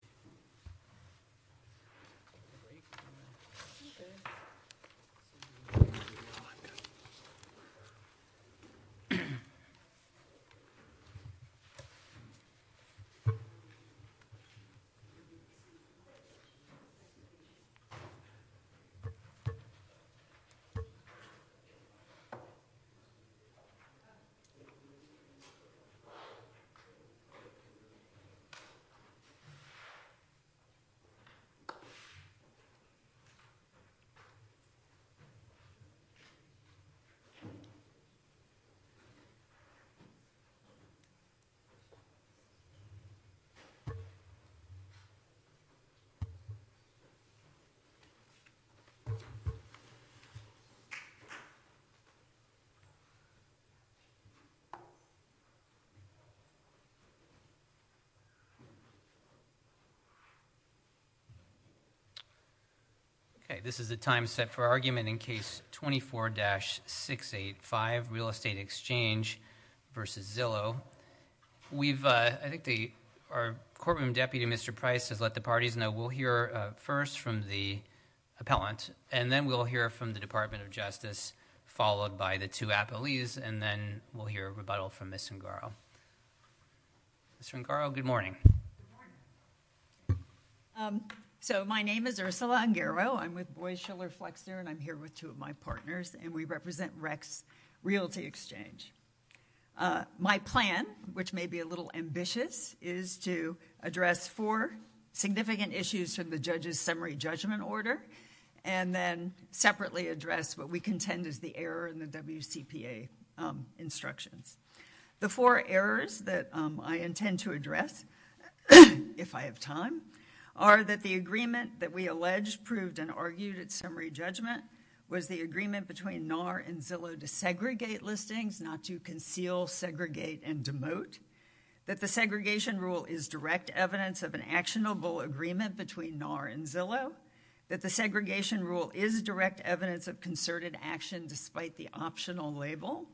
The Zillow Group is a joint venture with the Zillow Group, Inc. Okay, this is the time set for argument in Case 24-685, Real Estate Exchange v. Zillow. I think our courtroom deputy, Mr. Price, has let the parties know we'll hear first from the appellant, and then we'll hear from the Department of Justice, followed by the two appellees, and then we'll hear a rebuttal from Ms. Rengaro. Ms. Rengaro, good morning. Good morning. So my name is Ursula Rengaro. I'm with Boies Schiller Flexner, and I'm here with two of my partners, and we represent Rex Realty Exchange. My plan, which may be a little ambitious, is to address four significant issues from the judge's summary judgment order and then separately address what we contend is the error in the WCPA instructions. The four errors that I intend to address, if I have time, are that the agreement that we alleged, proved, and argued at summary judgment was the agreement between NAR and Zillow to segregate listings, not to conceal, segregate, and demote, that the segregation rule is direct evidence of an actionable agreement between NAR and Zillow, that the segregation rule is direct evidence of concerted action despite the optional label,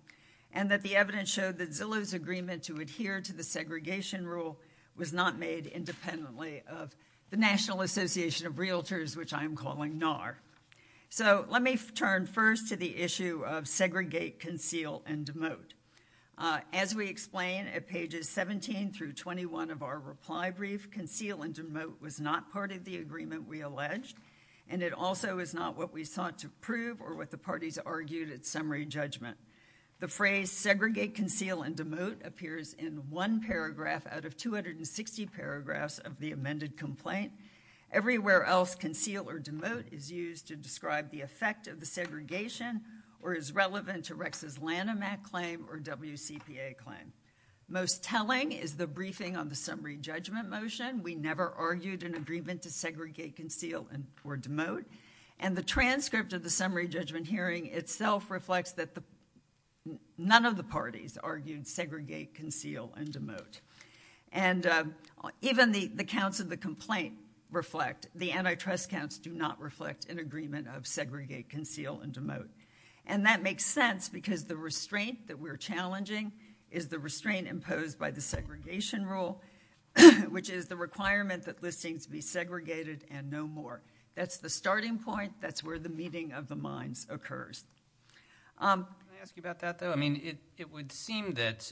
and that the evidence showed that Zillow's agreement to adhere to the segregation rule was not made independently of the National Association of Realtors, which I am calling NAR. So let me turn first to the issue of segregate, conceal, and demote. As we explain at pages 17 through 21 of our reply brief, conceal and demote was not part of the agreement we alleged, and it also is not what we sought to prove or what the parties argued at summary judgment. The phrase segregate, conceal, and demote appears in one paragraph out of 260 paragraphs of the amended complaint. Everywhere else, conceal or demote is used to describe the effect of the segregation or is relevant to Rex's Lanham Act claim or WCPA claim. Most telling is the briefing on the summary judgment motion. We never argued an agreement to segregate, conceal, or demote. And the transcript of the summary judgment hearing itself reflects that none of the parties argued segregate, conceal, and demote. And even the counts of the complaint reflect, the antitrust counts do not reflect an agreement of segregate, conceal, and demote. And that makes sense because the restraint that we're challenging is the restraint imposed by the segregation rule, which is the requirement that listings be segregated and no more. That's the starting point. That's where the meeting of the minds occurs. Can I ask you about that, though? I mean, it would seem that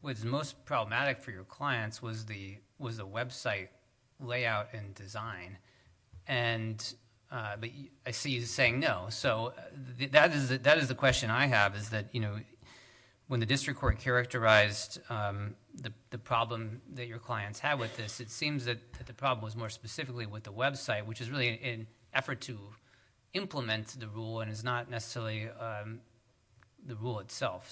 what's most problematic for your clients was the website layout and design, but I see you saying no. So that is the question I have, is that when the district court characterized the problem that your clients had with this, it seems that the problem was more specifically with the website, which is really an effort to implement the rule and is not necessarily the rule itself.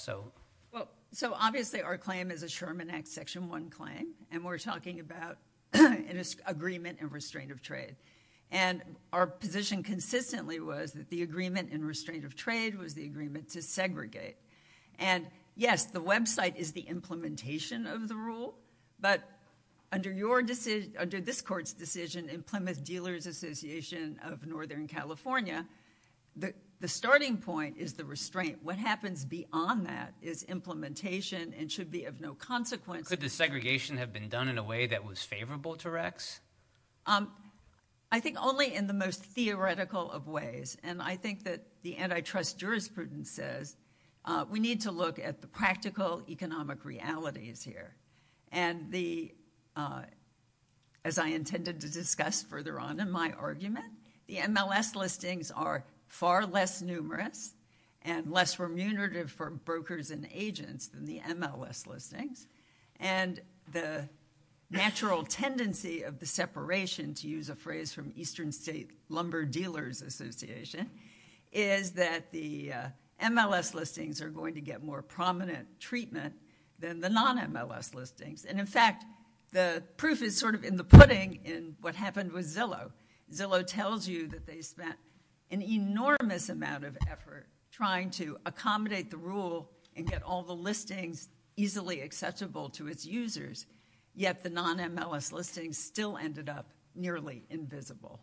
So obviously our claim is a Sherman Act Section 1 claim, and we're talking about an agreement and restraint of trade. And our position consistently was that the agreement and restraint of trade was the agreement to segregate. And yes, the website is the implementation of the rule, but under this court's decision in Plymouth Dealers Association of Northern California, the starting point is the restraint. What happens beyond that is implementation and should be of no consequence. Could the segregation have been done in a way that was favorable to Rex? I think only in the most theoretical of ways, and I think that the antitrust jurisprudence says we need to look at the practical economic realities here. And as I intended to discuss further on in my argument, the MLS listings are far less numerous and less remunerative for brokers and agents than the MLS listings. And the natural tendency of the separation, to use a phrase from Eastern State Lumber Dealers Association, is that the MLS listings are going to get more prominent treatment than the non-MLS listings. And in fact, the proof is sort of in the pudding in what happened with Zillow. Zillow tells you that they spent an enormous amount of effort trying to accommodate the rule and get all the listings easily accessible to its users, yet the non-MLS listings still ended up nearly invisible.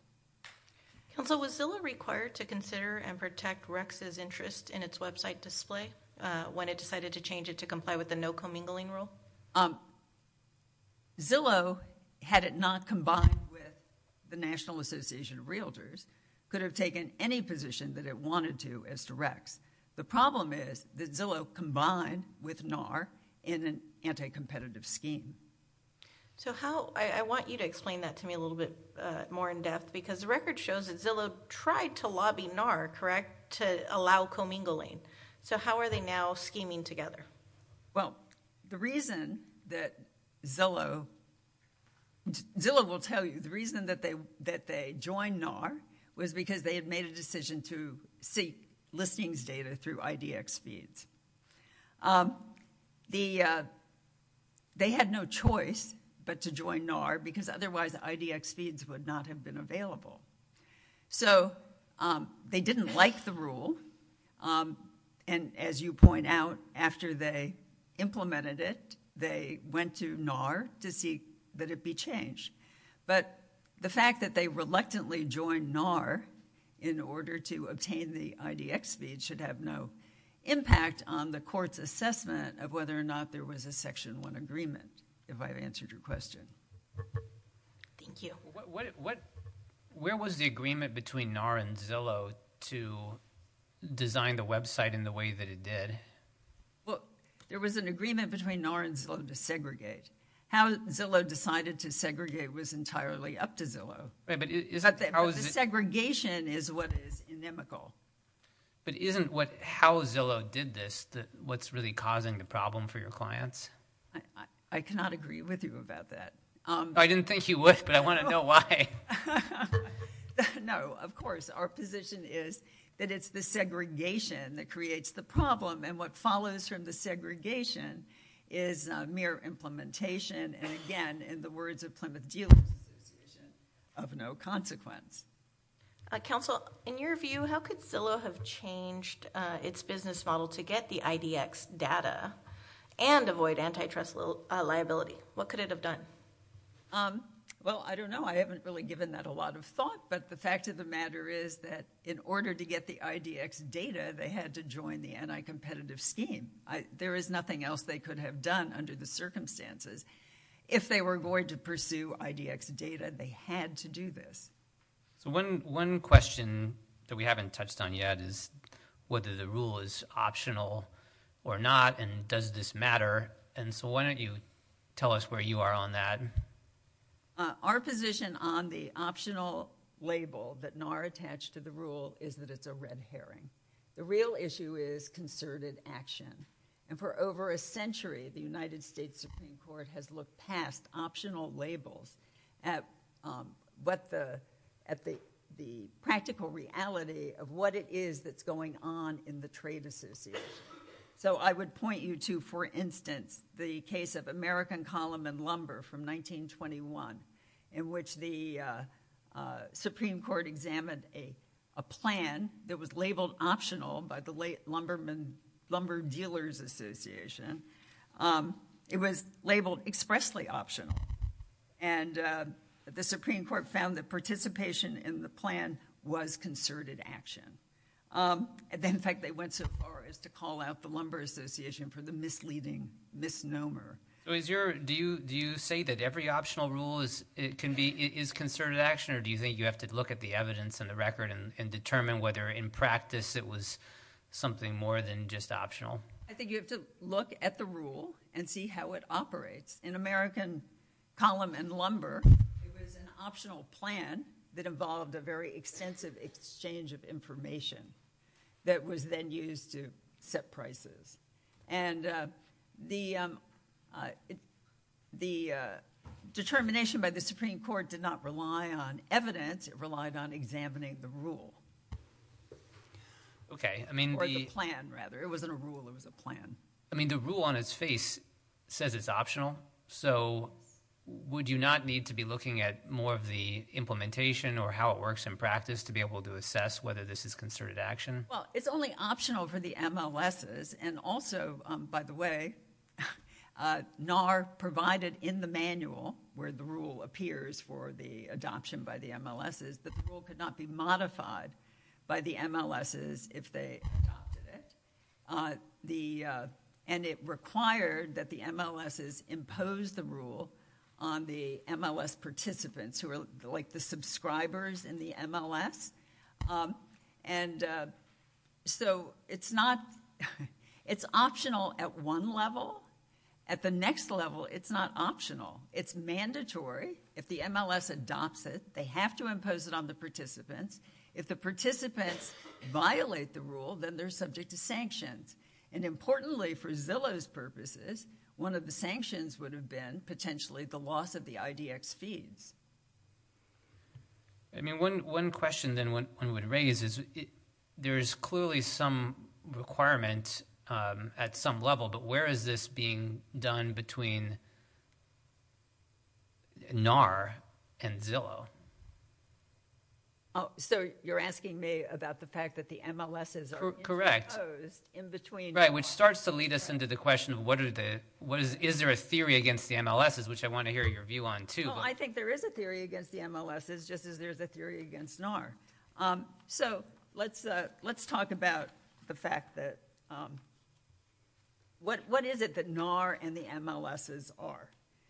Counsel, was Zillow required to consider and protect Rex's interest in its website display when it decided to change it to comply with the no commingling rule? Well, Zillow, had it not combined with the National Association of Realtors, could have taken any position that it wanted to as to Rex. The problem is that Zillow combined with NAR in an anti-competitive scheme. So how – I want you to explain that to me a little bit more in depth, because the record shows that Zillow tried to lobby NAR, correct, to allow commingling. So how are they now scheming together? Well, the reason that Zillow – Zillow will tell you the reason that they joined NAR was because they had made a decision to seek listings data through IDX feeds. They had no choice but to join NAR, because otherwise IDX feeds would not have been available. So they didn't like the rule, and as you point out, after they implemented it, they went to NAR to see that it be changed. But the fact that they reluctantly joined NAR in order to obtain the IDX feed should have no impact on the court's assessment of whether or not there was a Section 1 agreement, if I've answered your question. Thank you. Where was the agreement between NAR and Zillow to design the website in the way that it did? Well, there was an agreement between NAR and Zillow to segregate. How Zillow decided to segregate was entirely up to Zillow. But the segregation is what is inimical. But isn't how Zillow did this what's really causing the problem for your clients? I cannot agree with you about that. I didn't think you would, but I want to know why. No, of course. Our position is that it's the segregation that creates the problem, and what follows from the segregation is mere implementation. And, again, in the words of Plymouth Dealers Association, of no consequence. Counsel, in your view, how could Zillow have changed its business model to get the IDX data and avoid antitrust liability? What could it have done? Well, I don't know. I haven't really given that a lot of thought. But the fact of the matter is that in order to get the IDX data, they had to join the anti-competitive scheme. There is nothing else they could have done under the circumstances. If they were going to pursue IDX data, they had to do this. So one question that we haven't touched on yet is whether the rule is optional or not, and does this matter. And so why don't you tell us where you are on that. Our position on the optional label that NAR attached to the rule is that it's a red herring. The real issue is concerted action. And for over a century, the United States Supreme Court has looked past optional labels at the practical reality of what it is that's going on in the trade association. So I would point you to, for instance, the case of American Column and Lumber from 1921, in which the Supreme Court examined a plan that was labeled optional by the late Lumber Dealers Association. It was labeled expressly optional. And the Supreme Court found that participation in the plan was concerted action. In fact, they went so far as to call out the Lumber Association for the misleading misnomer. Do you say that every optional rule is concerted action, or do you think you have to look at the evidence and the record and determine whether in practice it was something more than just optional? I think you have to look at the rule and see how it operates. In American Column and Lumber, it was an optional plan that involved a very extensive exchange of information that was then used to set prices. And the determination by the Supreme Court did not rely on evidence. It relied on examining the rule. Or the plan, rather. It wasn't a rule. It was a plan. I mean, the rule on its face says it's optional, so would you not need to be looking at more of the implementation or how it works in practice to be able to assess whether this is concerted action? Well, it's only optional for the MLSs. And also, by the way, NAR provided in the manual where the rule appears for the adoption by the MLSs that the rule could not be modified by the MLSs if they adopted it. And it required that the MLSs impose the rule on the MLS participants who are like the subscribers in the MLS. And so it's optional at one level. At the next level, it's not optional. It's mandatory. If the MLS adopts it, they have to impose it on the participants. If the participants violate the rule, then they're subject to sanctions. And importantly, for Zillow's purposes, one of the sanctions would have been potentially the loss of the IDX fees. I mean, one question then one would raise is there is clearly some requirement at some level, but where is this being done between NAR and Zillow? So you're asking me about the fact that the MLSs are imposed in between? Right, which starts to lead us into the question of is there a theory against the MLSs, which I want to hear your view on, too. Well, I think there is a theory against the MLSs, just as there's a theory against NAR. So let's talk about the fact that—what is it that NAR and the MLSs are?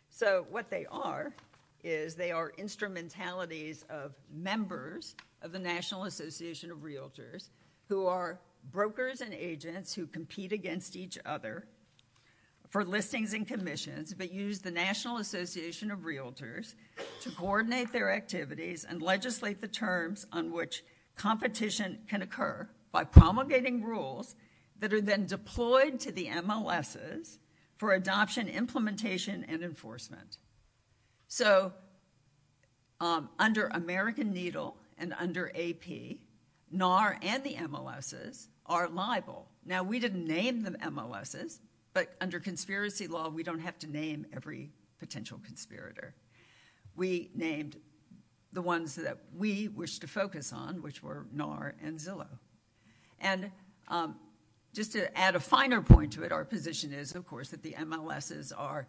So what they are is they are instrumentalities of members of the National Association of Realtors who are brokers and agents who compete against each other for listings and commissions, but use the National Association of Realtors to coordinate their activities and legislate the terms on which competition can occur by promulgating rules that are then deployed to the MLSs for adoption, implementation, and enforcement. So under American Needle and under AP, NAR and the MLSs are liable. Now, we didn't name the MLSs, but under conspiracy law, we don't have to name every potential conspirator. We named the ones that we wish to focus on, which were NAR and Zillow. And just to add a finer point to it, our position is, of course, that the MLSs are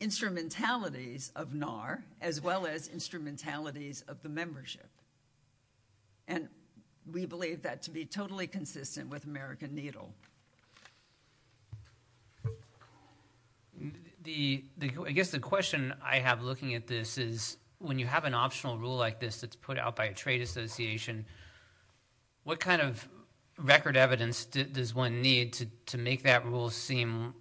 instrumentalities of NAR as well as instrumentalities of the membership. And we believe that to be totally consistent with American Needle. I guess the question I have looking at this is, when you have an optional rule like this that's put out by a trade association, what kind of record evidence does one need to make that rule seem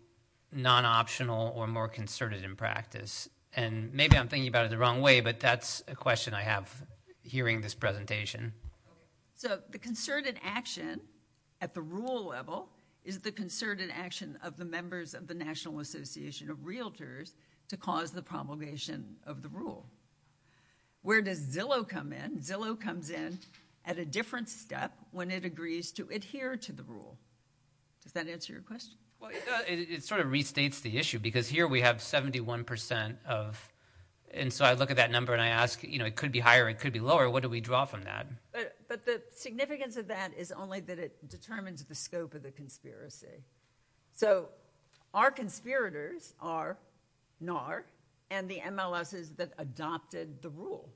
non-optional or more concerted in practice? And maybe I'm thinking about it the wrong way, but that's a question I have hearing this presentation. So the concerted action at the rule level is the concerted action of the members of the National Association of Realtors to cause the promulgation of the rule. Where does Zillow come in? Zillow comes in at a different step when it agrees to adhere to the rule. Does that answer your question? Well, it sort of restates the issue because here we have 71 percent of – and so I look at that number and I ask, you know, it could be higher, it could be lower. What do we draw from that? But the significance of that is only that it determines the scope of the conspiracy. So our conspirators are NAR and the MLSs that adopted the rule.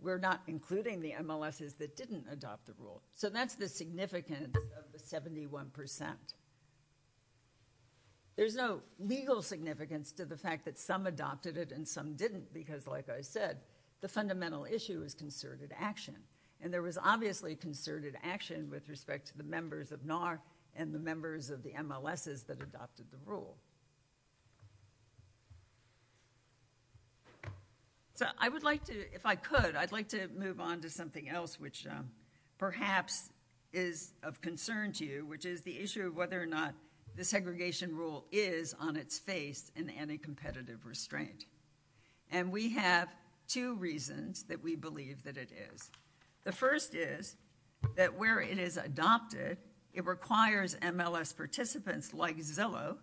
We're not including the MLSs that didn't adopt the rule. So that's the significance of the 71 percent. There's no legal significance to the fact that some adopted it and some didn't because, like I said, the fundamental issue is concerted action. And there was obviously concerted action with respect to the members of NAR and the members of the MLSs that adopted the rule. So I would like to – if I could, I'd like to move on to something else which perhaps is of concern to you, which is the issue of whether or not the segregation rule is on its face an anti-competitive restraint. And we have two reasons that we believe that it is. The first is that where it is adopted, it requires MLS participants like Zillow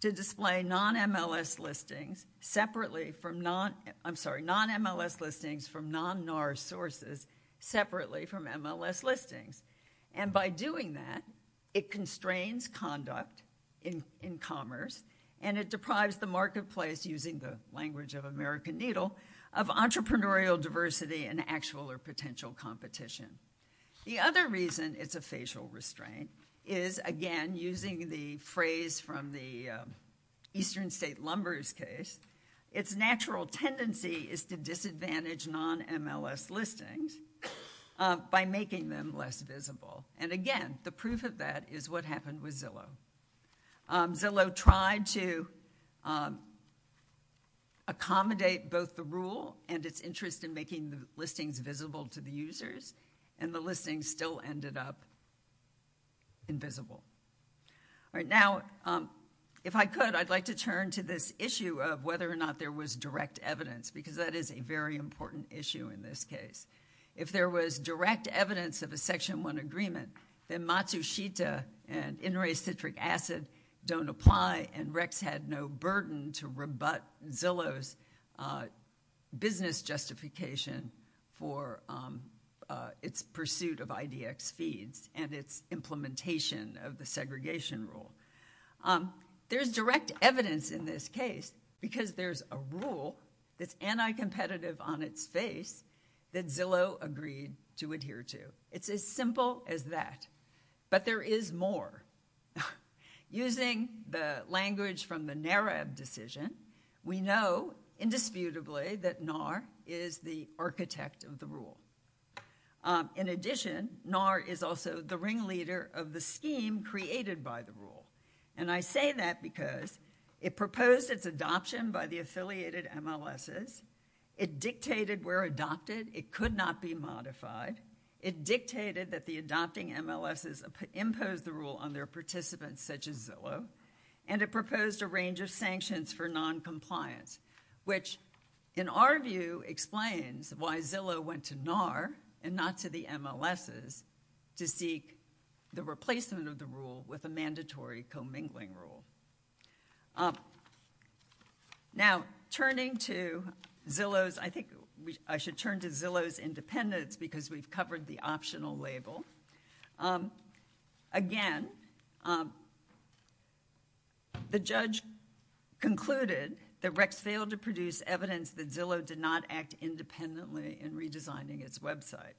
to display non-MLS listings separately from – I'm sorry, non-MLS listings from non-NAR sources separately from MLS listings. And by doing that, it constrains conduct in commerce and it deprives the marketplace, using the language of American Needle, of entrepreneurial diversity and actual or potential competition. The other reason it's a facial restraint is, again, using the phrase from the Eastern State Lumbers case, its natural tendency is to disadvantage non-MLS listings by making them less visible. And again, the proof of that is what happened with Zillow. Zillow tried to accommodate both the rule and its interest in making the listings visible to the users, and the listings still ended up invisible. All right. Now, if I could, I'd like to turn to this issue of whether or not there was direct evidence, because that is a very important issue in this case. If there was direct evidence of a Section 1 agreement, then Matsushita and NRA Citric Acid don't apply, and Rex had no burden to rebut Zillow's business justification for its pursuit of IDX feeds and its implementation of the segregation rule. There's direct evidence in this case because there's a rule that's anti-competitive on its face that Zillow agreed to adhere to. It's as simple as that. But there is more. Using the language from the NARAB decision, we know indisputably that NAR is the architect of the rule. In addition, NAR is also the ringleader of the scheme created by the rule. And I say that because it proposed its adoption by the affiliated MLSs. It dictated where adopted. It could not be modified. It dictated that the adopting MLSs impose the rule on their participants such as Zillow, and it proposed a range of sanctions for noncompliance, which in our view explains why Zillow went to NAR and not to the MLSs to seek the replacement of the rule with a mandatory commingling rule. Now, turning to Zillow's, I think I should turn to Zillow's independence because we've covered the optional label. Again, the judge concluded that Rex failed to produce evidence that Zillow did not act independently in redesigning its website.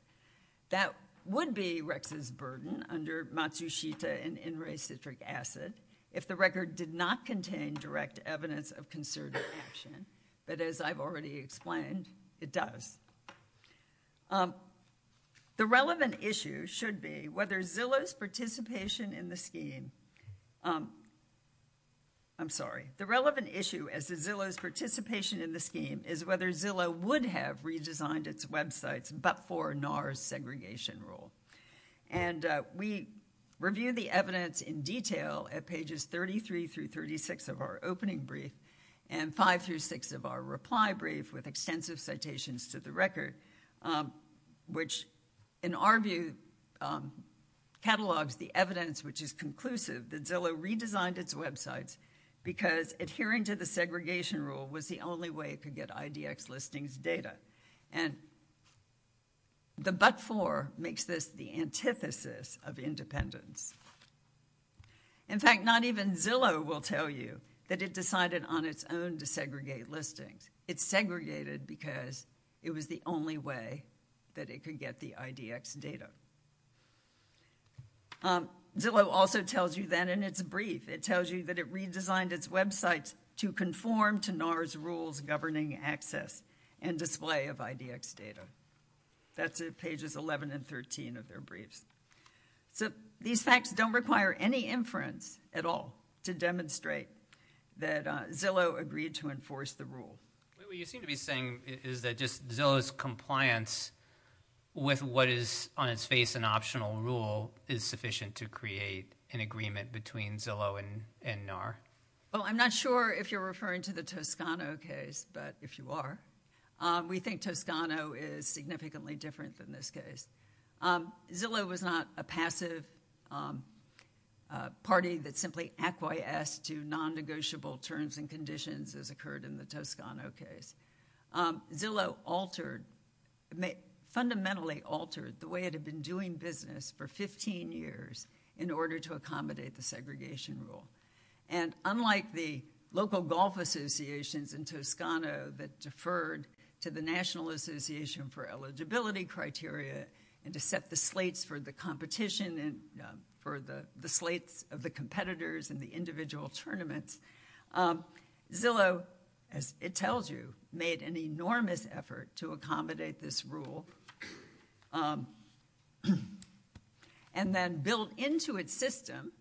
That would be Rex's burden under Matsushita and In re Citric Acid if the record did not contain direct evidence of concerted action. But as I've already explained, it does. The relevant issue should be whether Zillow's participation in the scheme. I'm sorry. The relevant issue as to Zillow's participation in the scheme is whether Zillow would have redesigned its websites but for NAR's segregation rule. And we review the evidence in detail at pages 33 through 36 of our opening brief and five through six of our reply brief with extensive citations to the record, which in our view catalogs the evidence which is conclusive that Zillow redesigned its websites because adhering to the segregation rule was the only way it could get IDX listings data. And the but for makes this the antithesis of independence. In fact, not even Zillow will tell you that it decided on its own to segregate listings. It segregated because it was the only way that it could get the IDX data. Zillow also tells you that in its brief, it tells you that it redesigned its websites to conform to NAR's rules governing access and display of IDX data. That's pages 11 and 13 of their briefs. So these facts don't require any inference at all to demonstrate that Zillow agreed to enforce the rule. What you seem to be saying is that just Zillow's compliance with what is on its face an optional rule is sufficient to create an agreement between Zillow and NAR? Well, I'm not sure if you're referring to the Toscano case, but if you are, we think Toscano is significantly different than this case. Zillow was not a passive party that simply acquiesced to non-negotiable terms and conditions as occurred in the Toscano case. Zillow altered, fundamentally altered the way it had been doing business for 15 years in order to accommodate the segregation rule. And unlike the local golf associations in Toscano that deferred to the National Association for Eligibility Criteria and to set the slates for the competition and for the slates of the competitors and the individual tournaments, Zillow, as it tells you, made an enormous effort to accommodate this rule. And then built into its system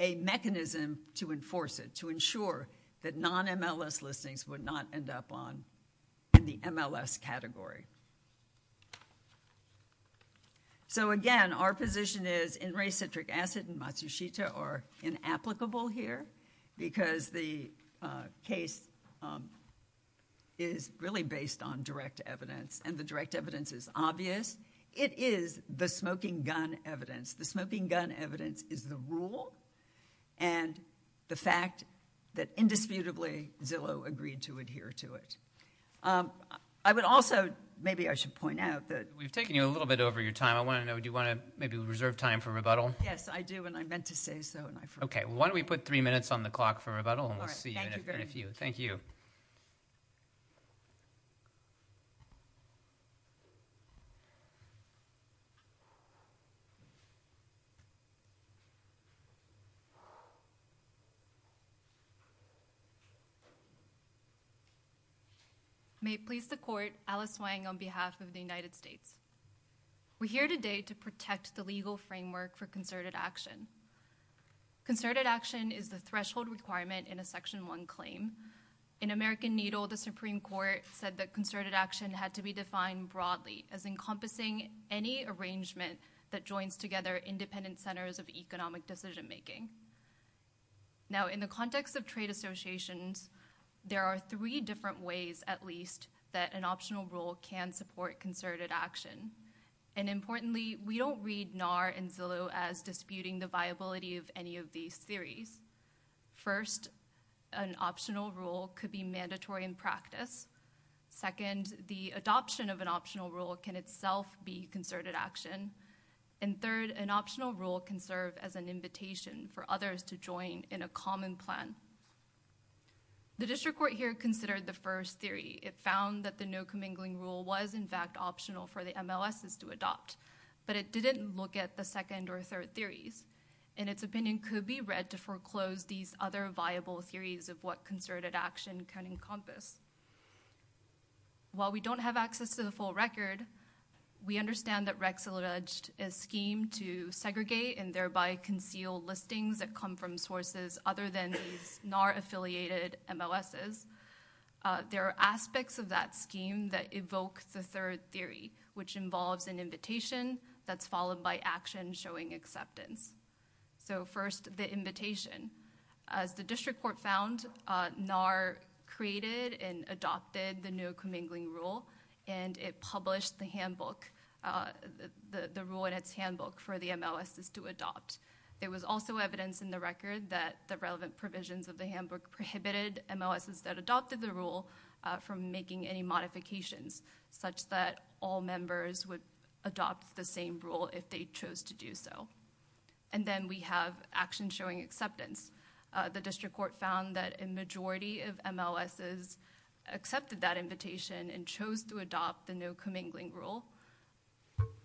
a mechanism to enforce it, to ensure that non-MLS listings would not end up in the MLS category. So again, our position is N-ray citric acid and Matsushita are inapplicable here because the case is really based on direct evidence and the direct evidence is obvious. It is the smoking gun evidence. The smoking gun evidence is the rule and the fact that indisputably Zillow agreed to adhere to it. I would also, maybe I should point out that- We've taken you a little bit over your time. I want to know, do you want to maybe reserve time for rebuttal? Yes, I do and I meant to say so. Okay. Why don't we put three minutes on the clock for rebuttal and we'll see you in a few. Thank you. May it please the court, Alice Wang on behalf of the United States. We're here today to protect the legal framework for concerted action. Concerted action is the threshold requirement in a Section 1 claim. In American Needle, the Supreme Court said that concerted action had to be defined broadly as encompassing any arrangement that joins together independent centers of economic decision making. Now, in the context of trade associations, there are three different ways at least that an optional rule can support concerted action. Importantly, we don't read NAR and Zillow as disputing the viability of any of these theories. First, an optional rule could be mandatory in practice. Second, the adoption of an optional rule can itself be concerted action. And third, an optional rule can serve as an invitation for others to join in a common plan. The district court here considered the first theory. It found that the no commingling rule was in fact optional for the MLSs to adopt, but it didn't look at the second or third theories. And its opinion could be read to foreclose these other viable theories of what concerted action can encompass. While we don't have access to the full record, we understand that Rex alleged a scheme to segregate and thereby conceal listings that come from sources other than these NAR affiliated MLSs. There are aspects of that scheme that evoke the third theory, which involves an invitation that's followed by action showing acceptance. So first, the invitation. As the district court found, NAR created and adopted the no commingling rule, and it published the handbook, the rule in its handbook for the MLSs to adopt. There was also evidence in the record that the relevant provisions of the handbook prohibited MLSs that adopted the rule from making any modifications, such that all members would adopt the same rule if they chose to do so. And then we have action showing acceptance. The district court found that a majority of MLSs accepted that invitation and chose to adopt the no commingling rule.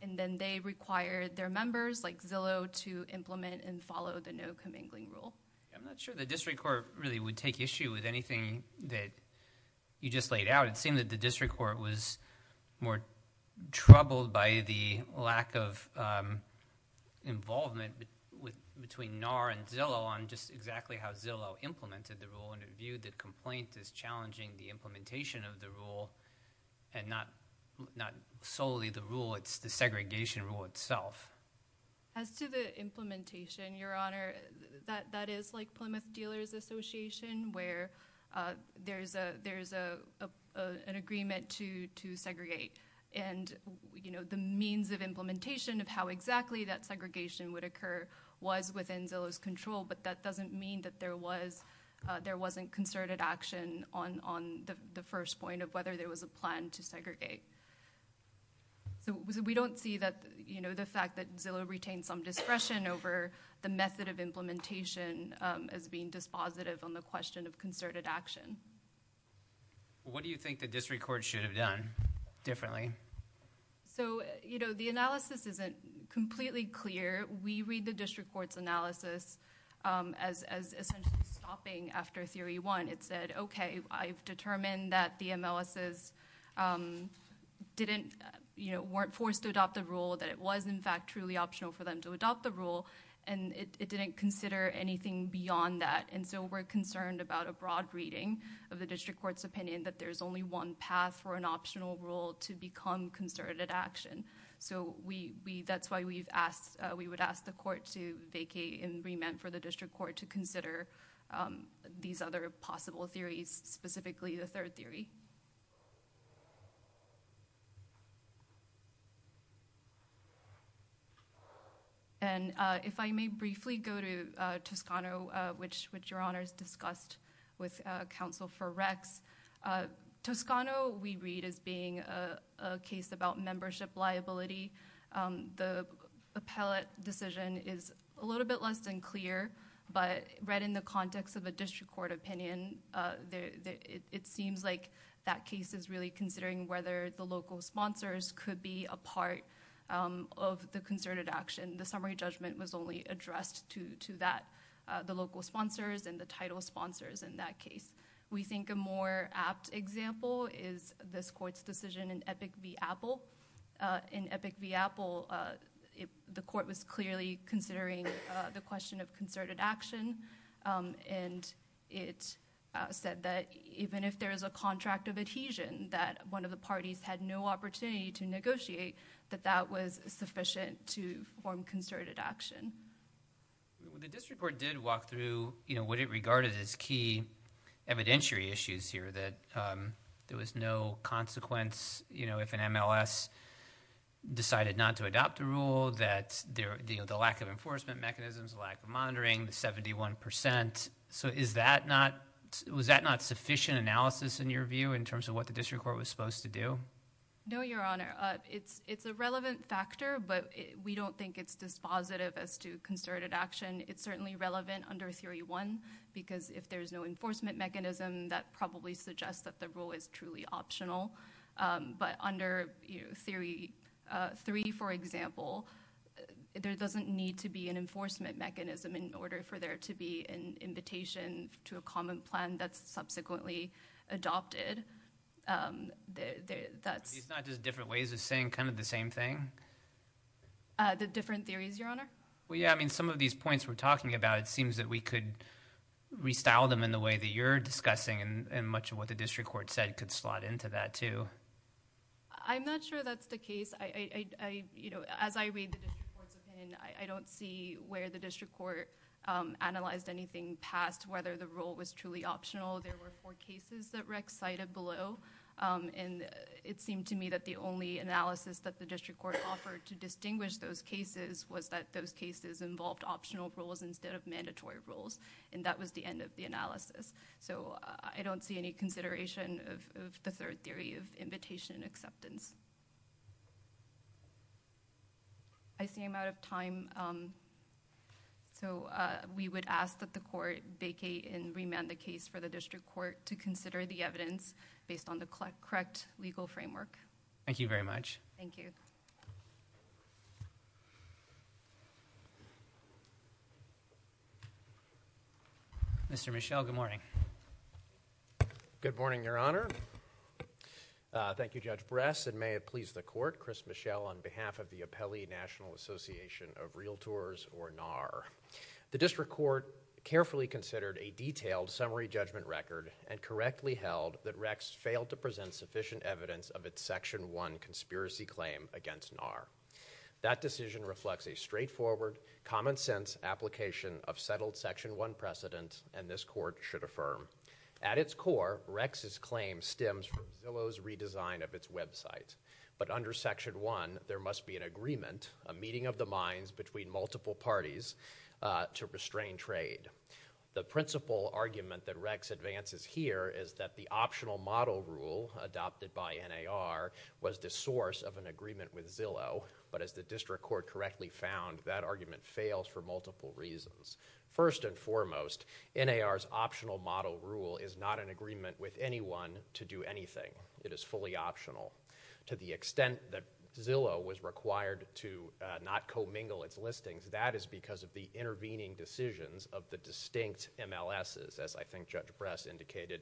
And then they required their members, like Zillow, to implement and follow the no commingling rule. I'm not sure the district court really would take issue with anything that you just laid out. It seemed that the district court was more troubled by the lack of involvement between NAR and Zillow on just exactly how Zillow implemented the rule. And it viewed the complaint as challenging the implementation of the rule and not solely the rule. It's the segregation rule itself. As to the implementation, Your Honor, that is like Plymouth Dealers Association, where there's an agreement to segregate. And, you know, the means of implementation of how exactly that segregation would occur was within Zillow's control, but that doesn't mean that there wasn't concerted action on the first point of whether there was a plan to segregate. So we don't see that, you know, the fact that Zillow retained some discretion over the method of implementation as being dispositive on the question of concerted action. What do you think the district court should have done differently? So, you know, the analysis isn't completely clear. We read the district court's analysis as essentially stopping after theory one. It said, okay, I've determined that the MLSs weren't forced to adopt the rule, that it was, in fact, truly optional for them to adopt the rule, and it didn't consider anything beyond that. And so we're concerned about a broad reading of the district court's opinion that there's only one path for an optional rule to become concerted action. So that's why we would ask the court to vacate and remand for the district court to consider these other possible theories, specifically the third theory. And if I may briefly go to Toscano, which your honors discussed with counsel for Rex. Toscano we read as being a case about membership liability. The appellate decision is a little bit less than clear, but read in the context of a district court opinion, it seems like that case is really considering whether the local sponsors could be a part of the concerted action. The summary judgment was only addressed to that, the local sponsors and the title sponsors in that case. We think a more apt example is this court's decision in Epic v. Apple. In Epic v. Apple, the court was clearly considering the question of concerted action, and it said that even if there is a contract of adhesion that one of the parties had no opportunity to negotiate, that that was sufficient to form concerted action. The district court did walk through what it regarded as key evidentiary issues here, that there was no consequence if an MLS decided not to adopt the rule, that the lack of enforcement mechanisms, lack of monitoring, the 71%. So was that not sufficient analysis in your view in terms of what the district court was supposed to do? No, Your Honor. It's a relevant factor, but we don't think it's dispositive as to concerted action. It's certainly relevant under Theory 1, because if there's no enforcement mechanism, that probably suggests that the rule is truly optional. But under Theory 3, for example, there doesn't need to be an enforcement mechanism in order for there to be an invitation to a common plan that's subsequently adopted. It's not just different ways of saying kind of the same thing? The different theories, Your Honor. Well, yeah, I mean, some of these points we're talking about, it seems that we could restyle them in the way that you're discussing, and much of what the district court said could slot into that too. I'm not sure that's the case. As I read the district court's opinion, I don't see where the district court analyzed anything past whether the rule was truly optional. There were four cases that REC cited below, and it seemed to me that the only analysis that the district court offered to distinguish those cases was that those cases involved optional rules instead of mandatory rules, and that was the end of the analysis. So I don't see any consideration of the third theory of invitation and acceptance. I see I'm out of time. So we would ask that the court vacate and remand the case for the district court to consider the evidence based on the correct legal framework. Thank you very much. Thank you. Mr. Michel, good morning. Good morning, Your Honor. Thank you, Judge Bress, and may it please the court, on behalf of the Apelli National Association of Realtors, or NAR. The district court carefully considered a detailed summary judgment record and correctly held that REC's failed to present sufficient evidence of its Section 1 conspiracy claim against NAR. That decision reflects a straightforward, common-sense application of settled Section 1 precedents, and this court should affirm. At its core, REC's claim stems from Zillow's redesign of its website, but under Section 1, there must be an agreement, a meeting of the minds between multiple parties, to restrain trade. The principal argument that REC's advances here is that the optional model rule adopted by NAR was the source of an agreement with Zillow, but as the district court correctly found, that argument fails for multiple reasons. First and foremost, NAR's optional model rule is not an agreement with anyone to do anything. It is fully optional. To the extent that Zillow was required to not commingle its listings, that is because of the intervening decisions of the distinct MLSs, as I think Judge Bress indicated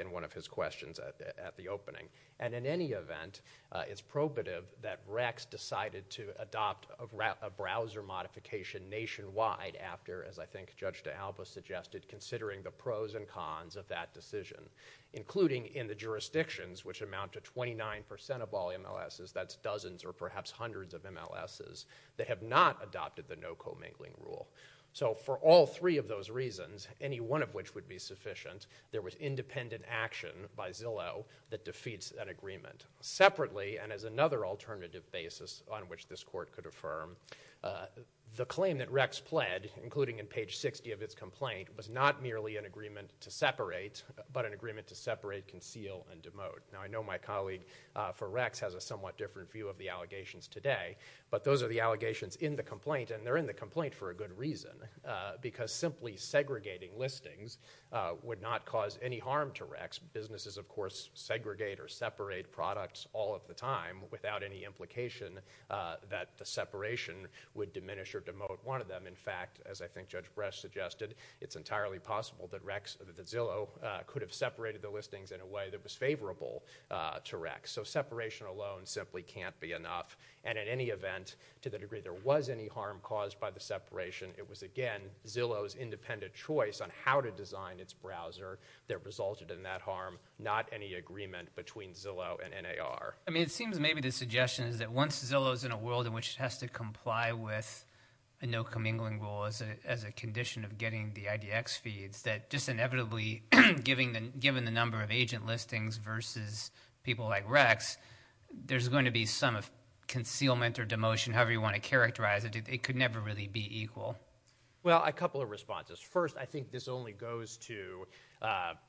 in one of his questions at the opening. And in any event, it's probative that REC's decided to adopt a browser modification nationwide after, as I think Judge D'Alba suggested, considering the pros and cons of that decision, including in the jurisdictions, which amount to 29% of all MLSs, that's dozens or perhaps hundreds of MLSs, that have not adopted the no commingling rule. So for all three of those reasons, any one of which would be sufficient, there was independent action by Zillow that defeats that agreement. Separately, and as another alternative basis on which this court could affirm, the claim that REC's pled, including in page 60 of its complaint, was not merely an agreement to separate, but an agreement to separate, conceal, and demote. Now I know my colleague for REC's has a somewhat different view of the allegations today, but those are the allegations in the complaint, and they're in the complaint for a good reason, because simply segregating listings would not cause any harm to REC's. Businesses, of course, segregate or separate products all of the time without any implication that the separation would diminish or demote one of them. In fact, as I think Judge Bresch suggested, it's entirely possible that Zillow could have separated the listings in a way that was favorable to REC. So separation alone simply can't be enough. And in any event, to the degree there was any harm caused by the separation, it was again Zillow's independent choice on how to design its browser that resulted in that harm, not any agreement between Zillow and NAR. I mean it seems maybe the suggestion is that once Zillow's in a world in which it has to comply with a no commingling rule as a condition of getting the IDX feeds, that just inevitably given the number of agent listings versus people like REC's, there's going to be some concealment or demotion, however you want to characterize it. It could never really be equal. Well, a couple of responses. First, I think this only goes to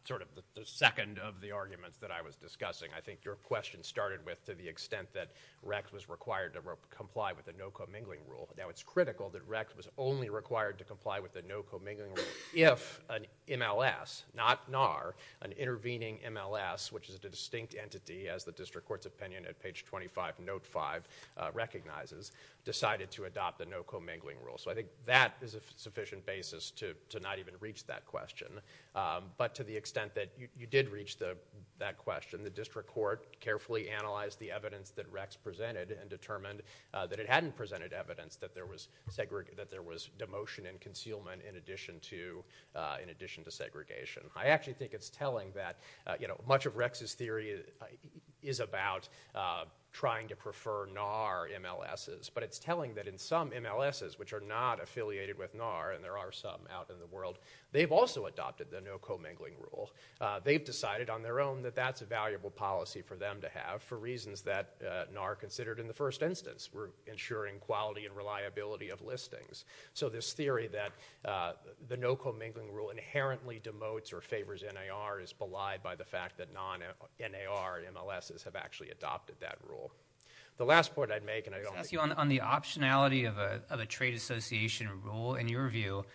sort of the second of the arguments that I was discussing. I think your question started with to the extent that REC was required to comply with a no commingling rule. Now it's critical that REC was only required to comply with a no commingling rule if an MLS, not NAR, an intervening MLS, which is a distinct entity as the district court's opinion at page 25, note 5, recognizes, decided to adopt the no commingling rule. So I think that is a sufficient basis to not even reach that question. But to the extent that you did reach that question, the district court carefully analyzed the evidence that REC's presented and determined that it hadn't presented evidence that there was demotion and concealment in addition to segregation. I actually think it's telling that much of REC's theory is about trying to prefer NAR MLS's. But it's telling that in some MLS's, which are not affiliated with NAR, and there are some out in the world, they've also adopted the no commingling rule. They've decided on their own that that's a valuable policy for them to have for reasons that NAR considered in the first instance. We're ensuring quality and reliability of listings. So this theory that the no commingling rule inherently demotes or favors NAR is belied by the fact that non-NAR MLS's have actually adopted that rule. The last point I'd make, and I don't want to- I want to ask you on the optionality of a trade association rule. In your view,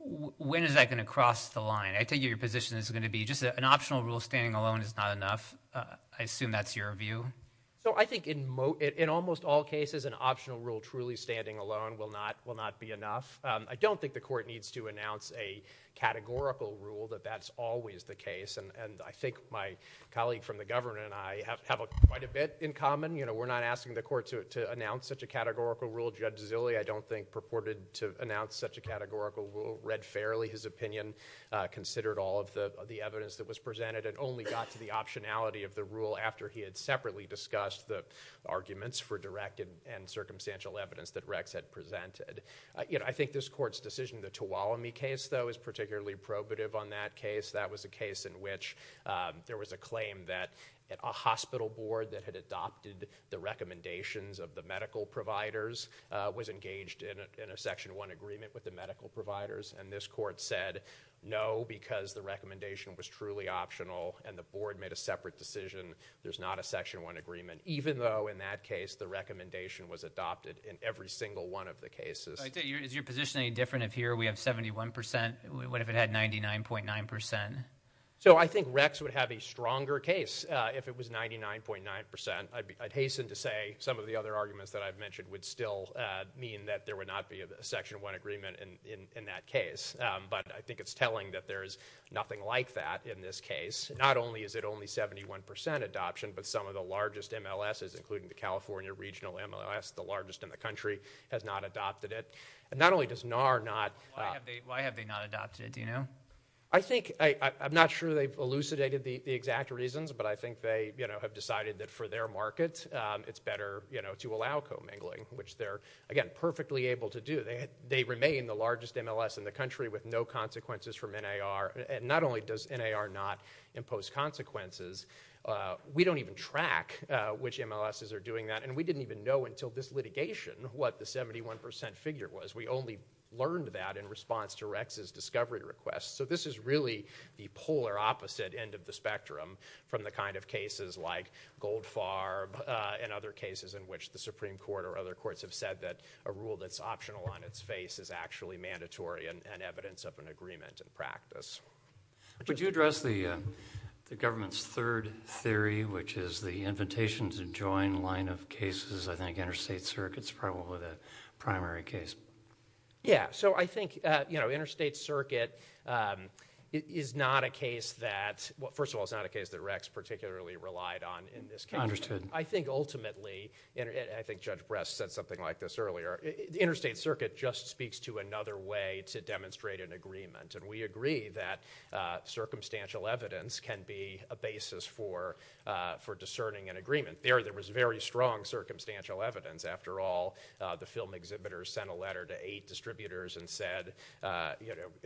when is that going to cross the line? I take it your position is going to be just an optional rule standing alone is not enough. I assume that's your view. So I think in almost all cases an optional rule truly standing alone will not be enough. I don't think the court needs to announce a categorical rule that that's always the case. And I think my colleague from the governor and I have quite a bit in common. We're not asking the court to announce such a categorical rule. Judge Zille, I don't think, purported to announce such a categorical rule. Read fairly his opinion, considered all of the evidence that was presented, and only got to the optionality of the rule after he had separately discussed the arguments for direct and circumstantial evidence that Rex had presented. I think this court's decision, the Tuolumne case, though, is particularly probative on that case. That was a case in which there was a claim that a hospital board that had adopted the recommendations of the medical providers was engaged in a Section 1 agreement with the medical providers. And this court said no, because the recommendation was truly optional and the board made a separate decision, there's not a Section 1 agreement, even though in that case the recommendation was adopted in every single one of the cases. Is your position any different if here we have 71%? What if it had 99.9%? So I think Rex would have a stronger case if it was 99.9%. I'd hasten to say some of the other arguments that I've mentioned would still mean that there would not be a Section 1 agreement in that case. But I think it's telling that there is nothing like that in this case. Not only is it only 71% adoption, but some of the largest MLSs, including the California Regional MLS, the largest in the country, has not adopted it. Not only does NAR not- Why have they not adopted it, do you know? I'm not sure they've elucidated the exact reasons, but I think they have decided that for their market it's better to allow commingling, which they're, again, perfectly able to do. They remain the largest MLS in the country with no consequences from NAR, and not only does NAR not impose consequences, we don't even track which MLSs are doing that, and we didn't even know until this litigation what the 71% figure was. We only learned that in response to Rex's discovery request. So this is really the polar opposite end of the spectrum from the kind of cases like Goldfarb and other cases in which the Supreme Court or other courts have said that a rule that's optional on its face is actually mandatory and evidence of an agreement in practice. Would you address the government's third theory, which is the invitation to join line of cases? I think Interstate Circuit's probably the primary case. Yeah, so I think Interstate Circuit is not a case that- Well, first of all, it's not a case that Rex particularly relied on in this case. Understood. I think ultimately, and I think Judge Bress said something like this earlier, Interstate Circuit just speaks to another way to demonstrate an agreement, and we agree that circumstantial evidence can be a basis for discerning an agreement. There was very strong circumstantial evidence. After all, the film exhibitors sent a letter to eight distributors and said, the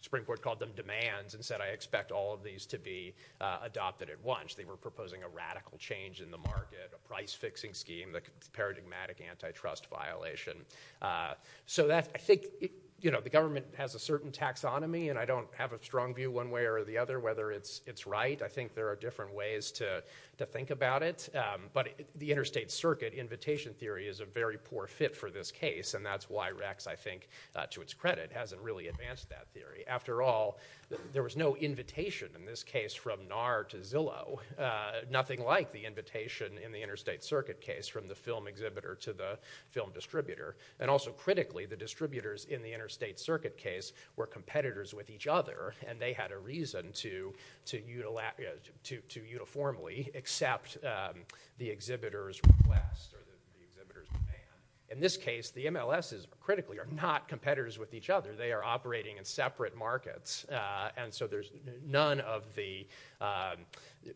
Supreme Court called them demands and said, I expect all of these to be adopted at once. They were proposing a radical change in the market, a price-fixing scheme, the paradigmatic antitrust violation. I think the government has a certain taxonomy, and I don't have a strong view one way or the other whether it's right. I think there are different ways to think about it, but the Interstate Circuit invitation theory is a very poor fit for this case, and that's why Rex, I think, to its credit, hasn't really advanced that theory. After all, there was no invitation in this case from NAR to Zillow, nothing like the invitation in the Interstate Circuit case from the film exhibitor to the film distributor. Also, critically, the distributors in the Interstate Circuit case were competitors with each other, and they had a reason to uniformly accept the exhibitor's request or the exhibitor's demand. In this case, the MLSs, critically, are not competitors with each other. They are operating in separate markets, and so there's none of the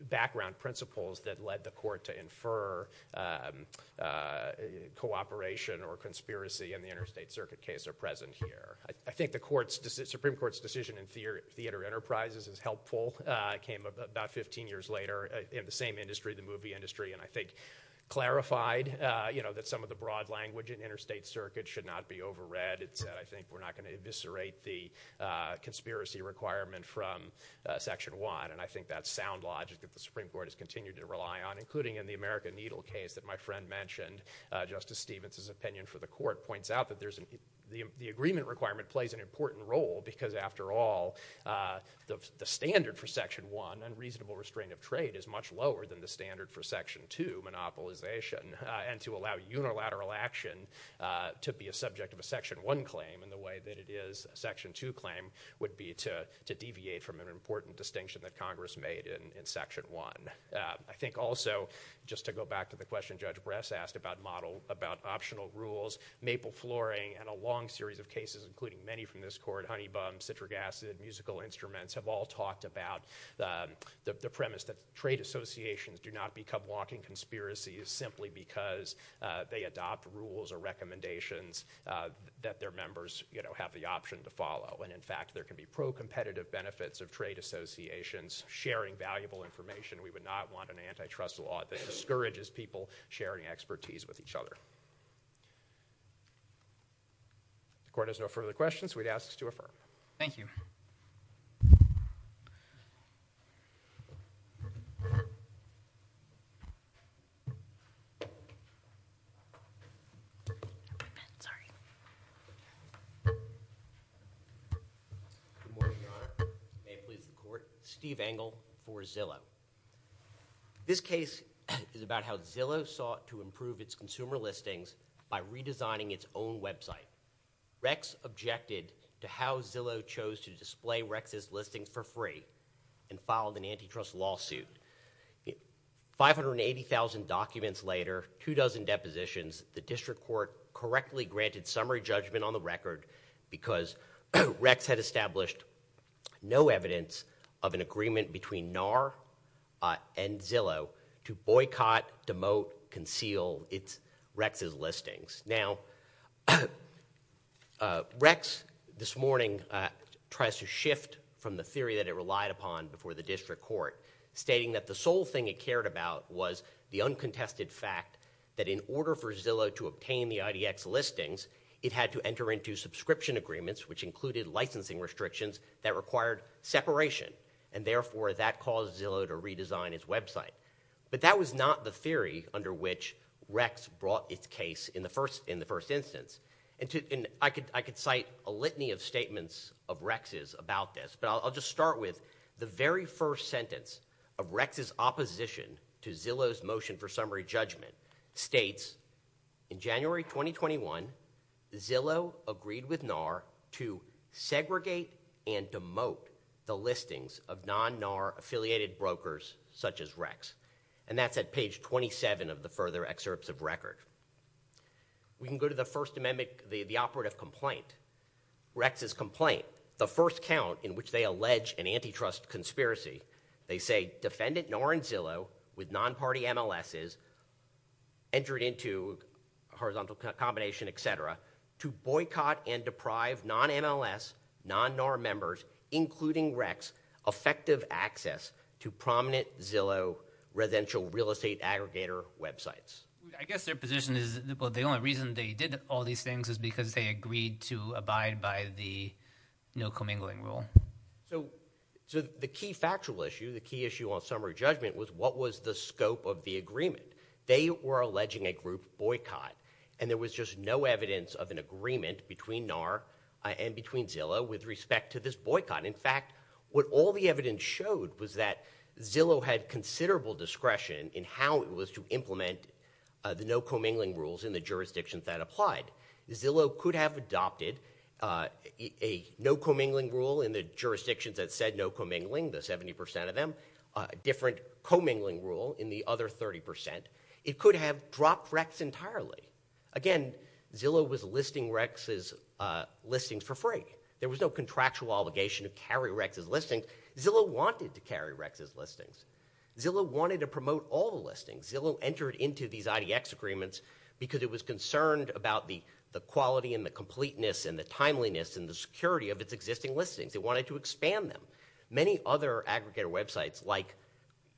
background principles that led the court to infer cooperation or conspiracy in the Interstate Circuit case are present here. I think the Supreme Court's decision in Theater Enterprises is helpful. It came about 15 years later in the same industry, the movie industry, and I think clarified that some of the broad language in Interstate Circuit should not be overread. It said, I think, we're not going to eviscerate the conspiracy requirement from Section 1, and I think that sound logic that the Supreme Court has continued to rely on, including in the American Needle case that my friend mentioned, Justice Stevens's opinion for the court points out that the agreement requirement plays an important role because, after all, the standard for Section 1, unreasonable restraint of trade, is much lower than the standard for Section 2, monopolization, and to allow unilateral action to be a subject of a Section 1 claim in the way that it is a Section 2 claim would be to deviate from an important distinction that Congress made in Section 1. I think also, just to go back to the question Judge Bress asked about optional rules, maple flooring, and a long series of cases, including many from this court, honey bums, citric acid, musical instruments, have all talked about the premise that trade associations do not become walking conspiracies simply because they adopt rules or recommendations that their members have the option to follow. In fact, there can be pro-competitive benefits of trade associations sharing valuable information. We would not want an antitrust law that discourages people sharing expertise with each other. The court has no further questions. We'd ask to affirm. Thank you. Good morning, Your Honor. May it please the Court. Steve Engel for Zillow. This case is about how Zillow sought to improve its consumer listings by redesigning its own website. Rex objected to how Zillow chose to display Rex's listings for free and filed an antitrust lawsuit. 580,000 documents later, two dozen depositions, the district court correctly granted summary judgment on the record because Rex had established no evidence of an agreement between NAR and Zillow to boycott, demote, conceal Rex's listings. Now, Rex, this morning, tries to shift from the theory that it relied upon before the district court, stating that the sole thing it cared about was the uncontested fact that in order for Zillow to obtain the IDX listings, it had to enter into subscription agreements, which included licensing restrictions that required separation, and therefore that caused Zillow to redesign its website. But that was not the theory under which Rex brought its case in the first instance. And I could cite a litany of statements of Rex's about this, but I'll just start with the very first sentence of Rex's opposition to Zillow's motion for summary judgment states, in January 2021, Zillow agreed with NAR to segregate and demote the listings of non-NAR affiliated brokers such as Rex. And that's at page 27 of the further excerpts of record. We can go to the first amendment, the operative complaint. Rex's complaint, the first count in which they allege an antitrust conspiracy, they say defendant NAR and Zillow with non-party MLSs entered into a horizontal combination, et cetera, to boycott and deprive non-MLS, non-NAR members, including Rex, effective access to prominent Zillow residential real estate aggregator websites. I guess their position is the only reason they did all these things is because they agreed to abide by the no commingling rule. So the key factual issue, the key issue on summary judgment, was what was the scope of the agreement. They were alleging a group boycott, and there was just no evidence of an agreement between NAR and between Zillow with respect to this boycott. In fact, what all the evidence showed was that Zillow had considerable discretion in how it was to implement the no commingling rules in the jurisdictions that applied. Zillow could have adopted a no commingling rule in the jurisdictions that said no commingling, the 70% of them, a different commingling rule in the other 30%. It could have dropped Rex entirely. Again, Zillow was listing Rex's listings for free. There was no contractual obligation to carry Rex's listings. Zillow wanted to carry Rex's listings. Zillow wanted to promote all the listings. Zillow entered into these IDX agreements because it was concerned about the quality and the completeness and the timeliness and the security of its existing listings. It wanted to expand them. Many other aggregator websites, like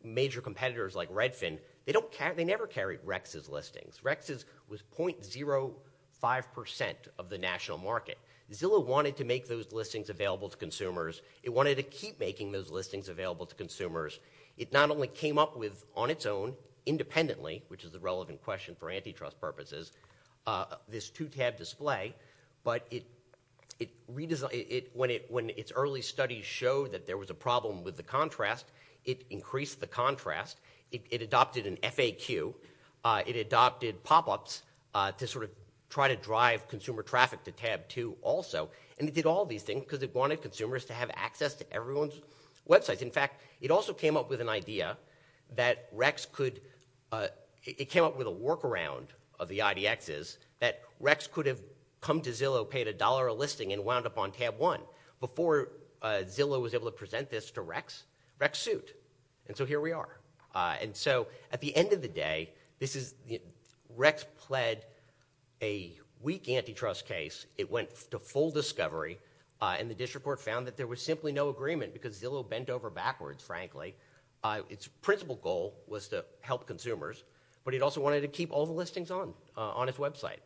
major competitors like Redfin, they never carried Rex's listings. Rex's was .05% of the national market. Zillow wanted to make those listings available to consumers. It wanted to keep making those listings available to consumers. It not only came up with, on its own, independently, which is a relevant question for antitrust purposes, this two-tab display, but when its early studies showed that there was a problem with the contrast, it increased the contrast. It adopted an FAQ. It adopted pop-ups to sort of try to drive consumer traffic to tab 2 also, and it did all these things because it wanted consumers to have access to everyone's websites. In fact, it also came up with an idea that Rex could – it came up with a workaround of the IDXs that Rex could have come to Zillow, paid a dollar a listing, and wound up on tab 1. Before Zillow was able to present this to Rex, Rex sued, and so here we are. At the end of the day, Rex pled a weak antitrust case. It went to full discovery, and the district court found that there was simply no agreement because Zillow bent over backwards, frankly. Its principal goal was to help consumers, but it also wanted to keep all the listings on its website,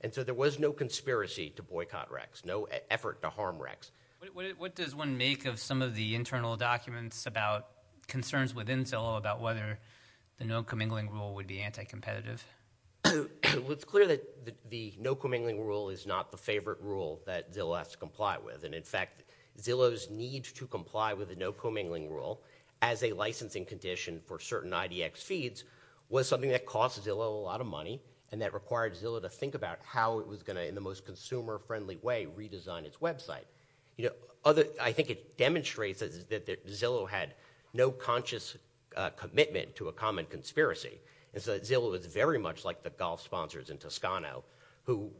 and so there was no conspiracy to boycott Rex, no effort to harm Rex. What does one make of some of the internal documents about concerns within Zillow about whether the no commingling rule would be anti-competitive? It's clear that the no commingling rule is not the favorite rule that Zillow has to comply with, and in fact, Zillow's need to comply with the no commingling rule as a licensing condition for certain IDX feeds was something that cost Zillow a lot of money and that required Zillow to think about how it was going to, in the most consumer-friendly way, redesign its website. I think it demonstrates that Zillow had no conscious commitment to a common conspiracy, and so Zillow is very much like the golf sponsors in Toscano who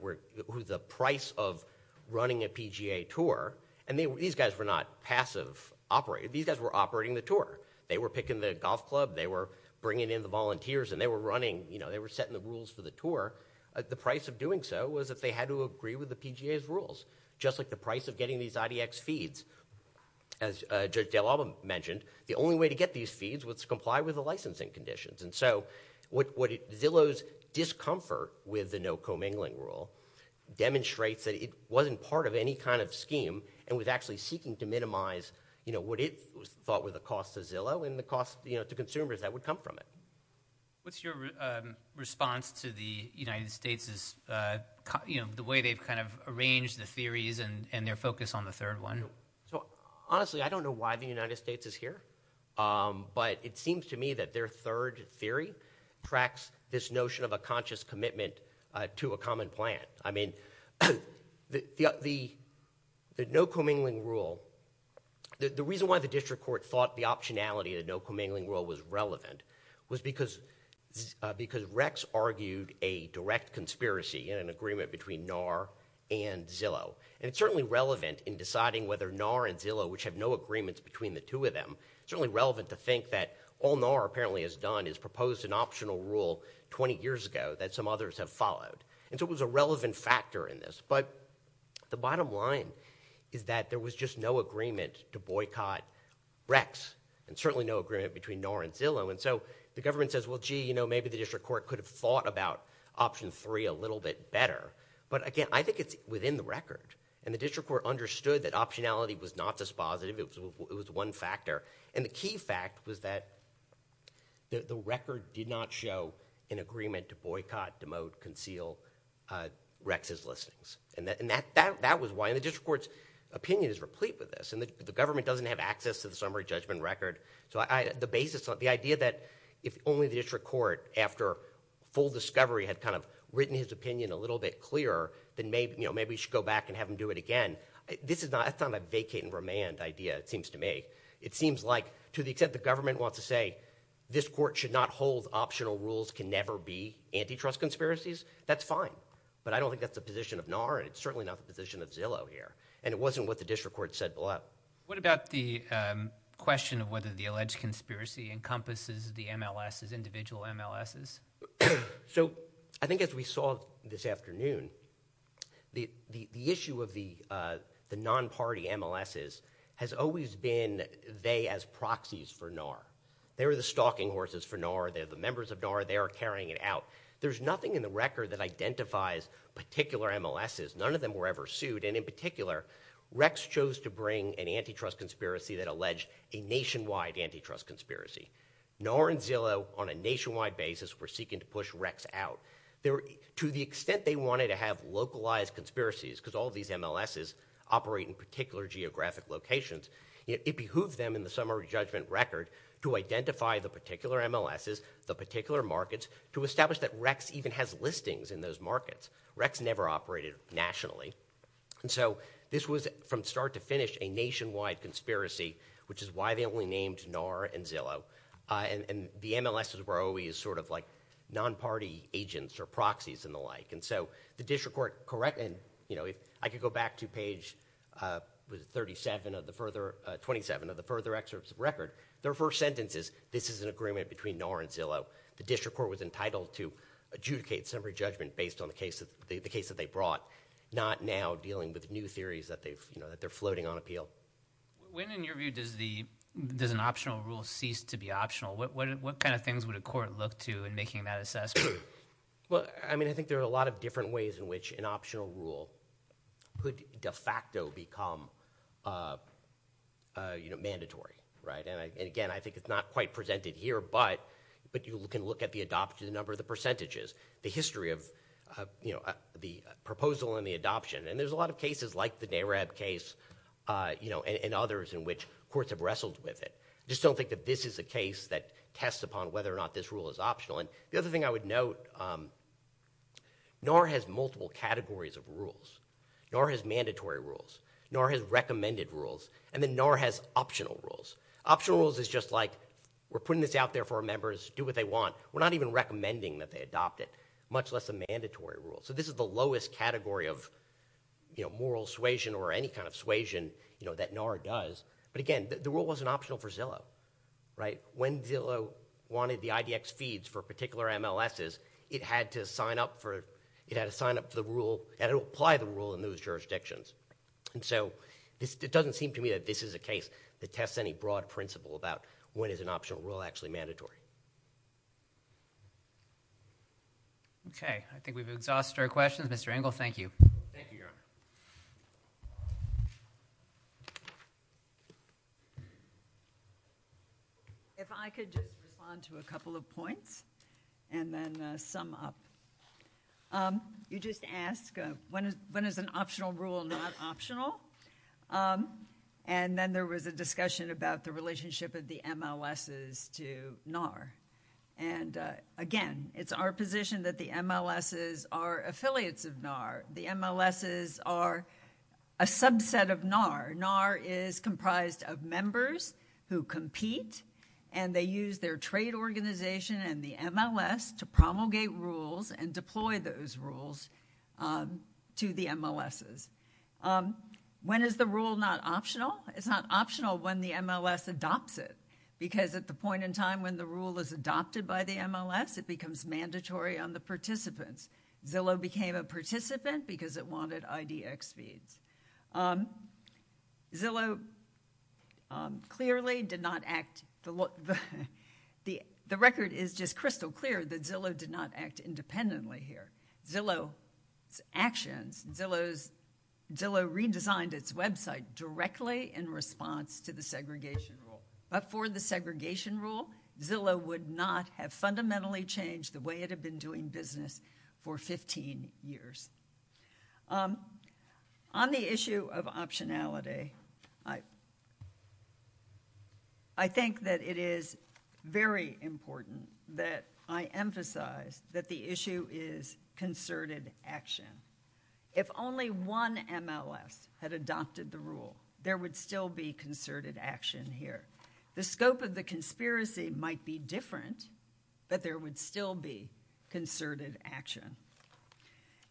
the price of running a PGA tour, and these guys were not passive operators. These guys were operating the tour. They were picking the golf club. They were bringing in the volunteers, and they were running. They were setting the rules for the tour. The price of doing so was that they had to agree with the PGA's rules, just like the price of getting these IDX feeds. As Judge DeLava mentioned, the only way to get these feeds was to comply with the licensing conditions, and so Zillow's discomfort with the no commingling rule demonstrates that it wasn't part of any kind of scheme and was actually seeking to minimize what it thought were the costs to Zillow and the costs to consumers that would come from it. What's your response to the United States'— the way they've kind of arranged the theories and their focus on the third one? Honestly, I don't know why the United States is here, but it seems to me that their third theory tracks this notion of a conscious commitment to a common plan. I mean, the no commingling rule— the reason why the district court thought the optionality of the no commingling rule was relevant was because Rex argued a direct conspiracy in an agreement between NAR and Zillow, and it's certainly relevant in deciding whether NAR and Zillow, which have no agreements between the two of them— it's certainly relevant to think that all NAR apparently has done is propose an optional rule 20 years ago that some others have followed, and so it was a relevant factor in this, but the bottom line is that there was just no agreement to boycott Rex and certainly no agreement between NAR and Zillow, and so the government says, well, gee, you know, maybe the district court could have thought about option three a little bit better, but again, I think it's within the record, and the district court understood that optionality was not dispositive. It was one factor, and the key fact was that the record did not show an agreement to boycott, demote, conceal Rex's listings, and that was why— and the district court's opinion is replete with this, and the government doesn't have access to the summary judgment record, so the idea that if only the district court, after full discovery, had kind of written his opinion a little bit clearer, then maybe you should go back and have him do it again. This is not a vacate and remand idea, it seems to me. It seems like to the extent the government wants to say this court should not hold optional rules can never be antitrust conspiracies, that's fine, but I don't think that's the position of NAR, and it's certainly not the position of Zillow here, and it wasn't what the district court said below. What about the question of whether the alleged conspiracy encompasses the MLS's, individual MLS's? So I think as we saw this afternoon, the issue of the non-party MLS's has always been they as proxies for NAR. They were the stalking horses for NAR. They're the members of NAR. They are carrying it out. There's nothing in the record that identifies particular MLS's. None of them were ever sued, and in particular, Rex chose to bring an antitrust conspiracy that alleged a nationwide antitrust conspiracy. NAR and Zillow on a nationwide basis were seeking to push Rex out. To the extent they wanted to have localized conspiracies, because all of these MLS's operate in particular geographic locations, it behooves them in the summary judgment record to identify the particular MLS's, the particular markets, to establish that Rex even has listings in those markets. Rex never operated nationally. And so this was, from start to finish, a nationwide conspiracy, which is why they only named NAR and Zillow. And the MLS's were always sort of like non-party agents or proxies and the like. And so the district court corrected, you know, if I could go back to page 37 of the further, 27 of the further excerpts of the record, their first sentence is, this is an agreement between NAR and Zillow. The district court was entitled to adjudicate summary judgment based on the case that they brought, not now dealing with new theories that they're floating on appeal. When, in your view, does an optional rule cease to be optional? What kind of things would a court look to in making that assessment? Well, I mean, I think there are a lot of different ways in which an optional rule could de facto become, you know, mandatory. And again, I think it's not quite presented here, but you can look at the number of the percentages, the history of, you know, the proposal and the adoption. And there's a lot of cases like the NARAB case, you know, and others in which courts have wrestled with it. Just don't think that this is a case that tests upon whether or not this rule is optional. And the other thing I would note, NAR has multiple categories of rules. NAR has mandatory rules. NAR has recommended rules. And then NAR has optional rules. Optional rules is just like, we're putting this out there for our members, do what they want. We're not even recommending that they adopt it, much less a mandatory rule. So this is the lowest category of, you know, moral suasion or any kind of suasion, you know, that NAR does. But again, the rule wasn't optional for Zillow, right? When Zillow wanted the IDX feeds for particular MLSs, it had to sign up for the rule, and it would apply the rule in those jurisdictions. And so it doesn't seem to me that this is a case that tests any broad principle about when is an optional rule actually mandatory. Okay. I think we've exhausted our questions. Mr. Engel, thank you. Thank you, Your Honor. If I could just respond to a couple of points and then sum up. You just asked, when is an optional rule not optional? And then there was a discussion about the relationship of the MLSs to NAR. And again, it's our position that the MLSs are affiliates of NAR. The MLSs are a subset of NAR. NAR is comprised of members who compete, and they use their trade organization and the MLS to promulgate rules and deploy those rules to the MLSs. When is the rule not optional? It's not optional when the MLS adopts it, because at the point in time when the rule is adopted by the MLS, it becomes mandatory on the participants. Zillow became a participant because it wanted IDX feeds. Zillow clearly did not act. The record is just crystal clear that Zillow did not act independently here. Zillow's actions, Zillow redesigned its website directly in response to the segregation rule. But for the segregation rule, Zillow would not have fundamentally changed the way it had been doing business for 15 years. On the issue of optionality, I think that it is very important that I emphasize that the issue is concerted action. If only one MLS had adopted the rule, there would still be concerted action here. The scope of the conspiracy might be different, but there would still be concerted action.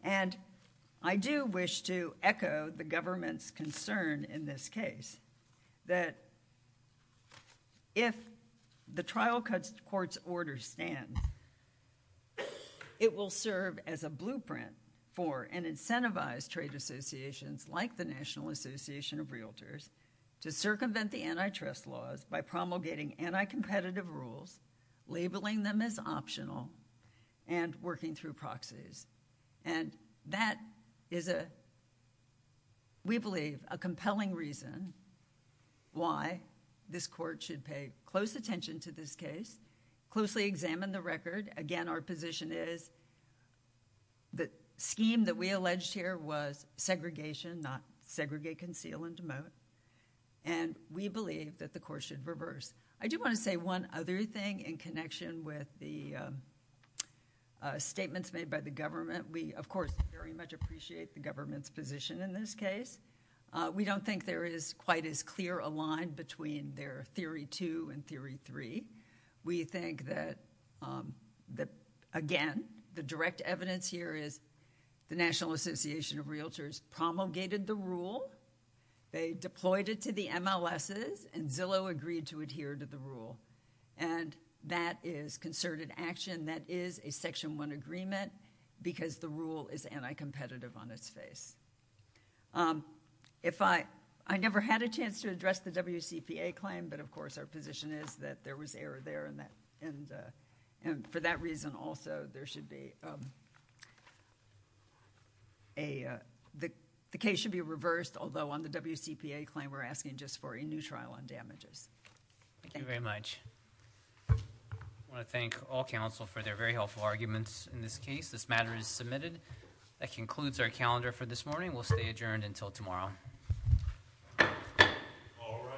And I do wish to echo the government's concern in this case that if the trial court's order stands, it will serve as a blueprint for an incentivized trade associations like the National Association of Realtors to circumvent the antitrust laws by promulgating anti-competitive rules, labeling them as optional, and working through proxies. And that is, we believe, a compelling reason why this court should pay close attention to this case, closely examine the record. Again, our position is the scheme that we alleged here was segregation, not segregate, conceal, and demote. And we believe that the court should reverse. I do want to say one other thing in connection with the statements made by the government. We, of course, very much appreciate the government's position in this case. We don't think there is quite as clear a line between their theory two and theory three. We think that, again, the direct evidence here is the National Association of Realtors promulgated the rule, they deployed it to the MLSs, and Zillow agreed to adhere to the rule. And that is concerted action. That is a Section 1 agreement because the rule is anti-competitive on its face. I never had a chance to address the WCPA claim, but, of course, our position is that there was error there. And for that reason, also, there should be a... The case should be reversed, although on the WCPA claim we're asking just for a new trial on damages. Thank you. Thank you very much. I want to thank all counsel for their very helpful arguments in this case. This matter is submitted. That concludes our calendar for this morning. We'll stay adjourned until tomorrow. All rise.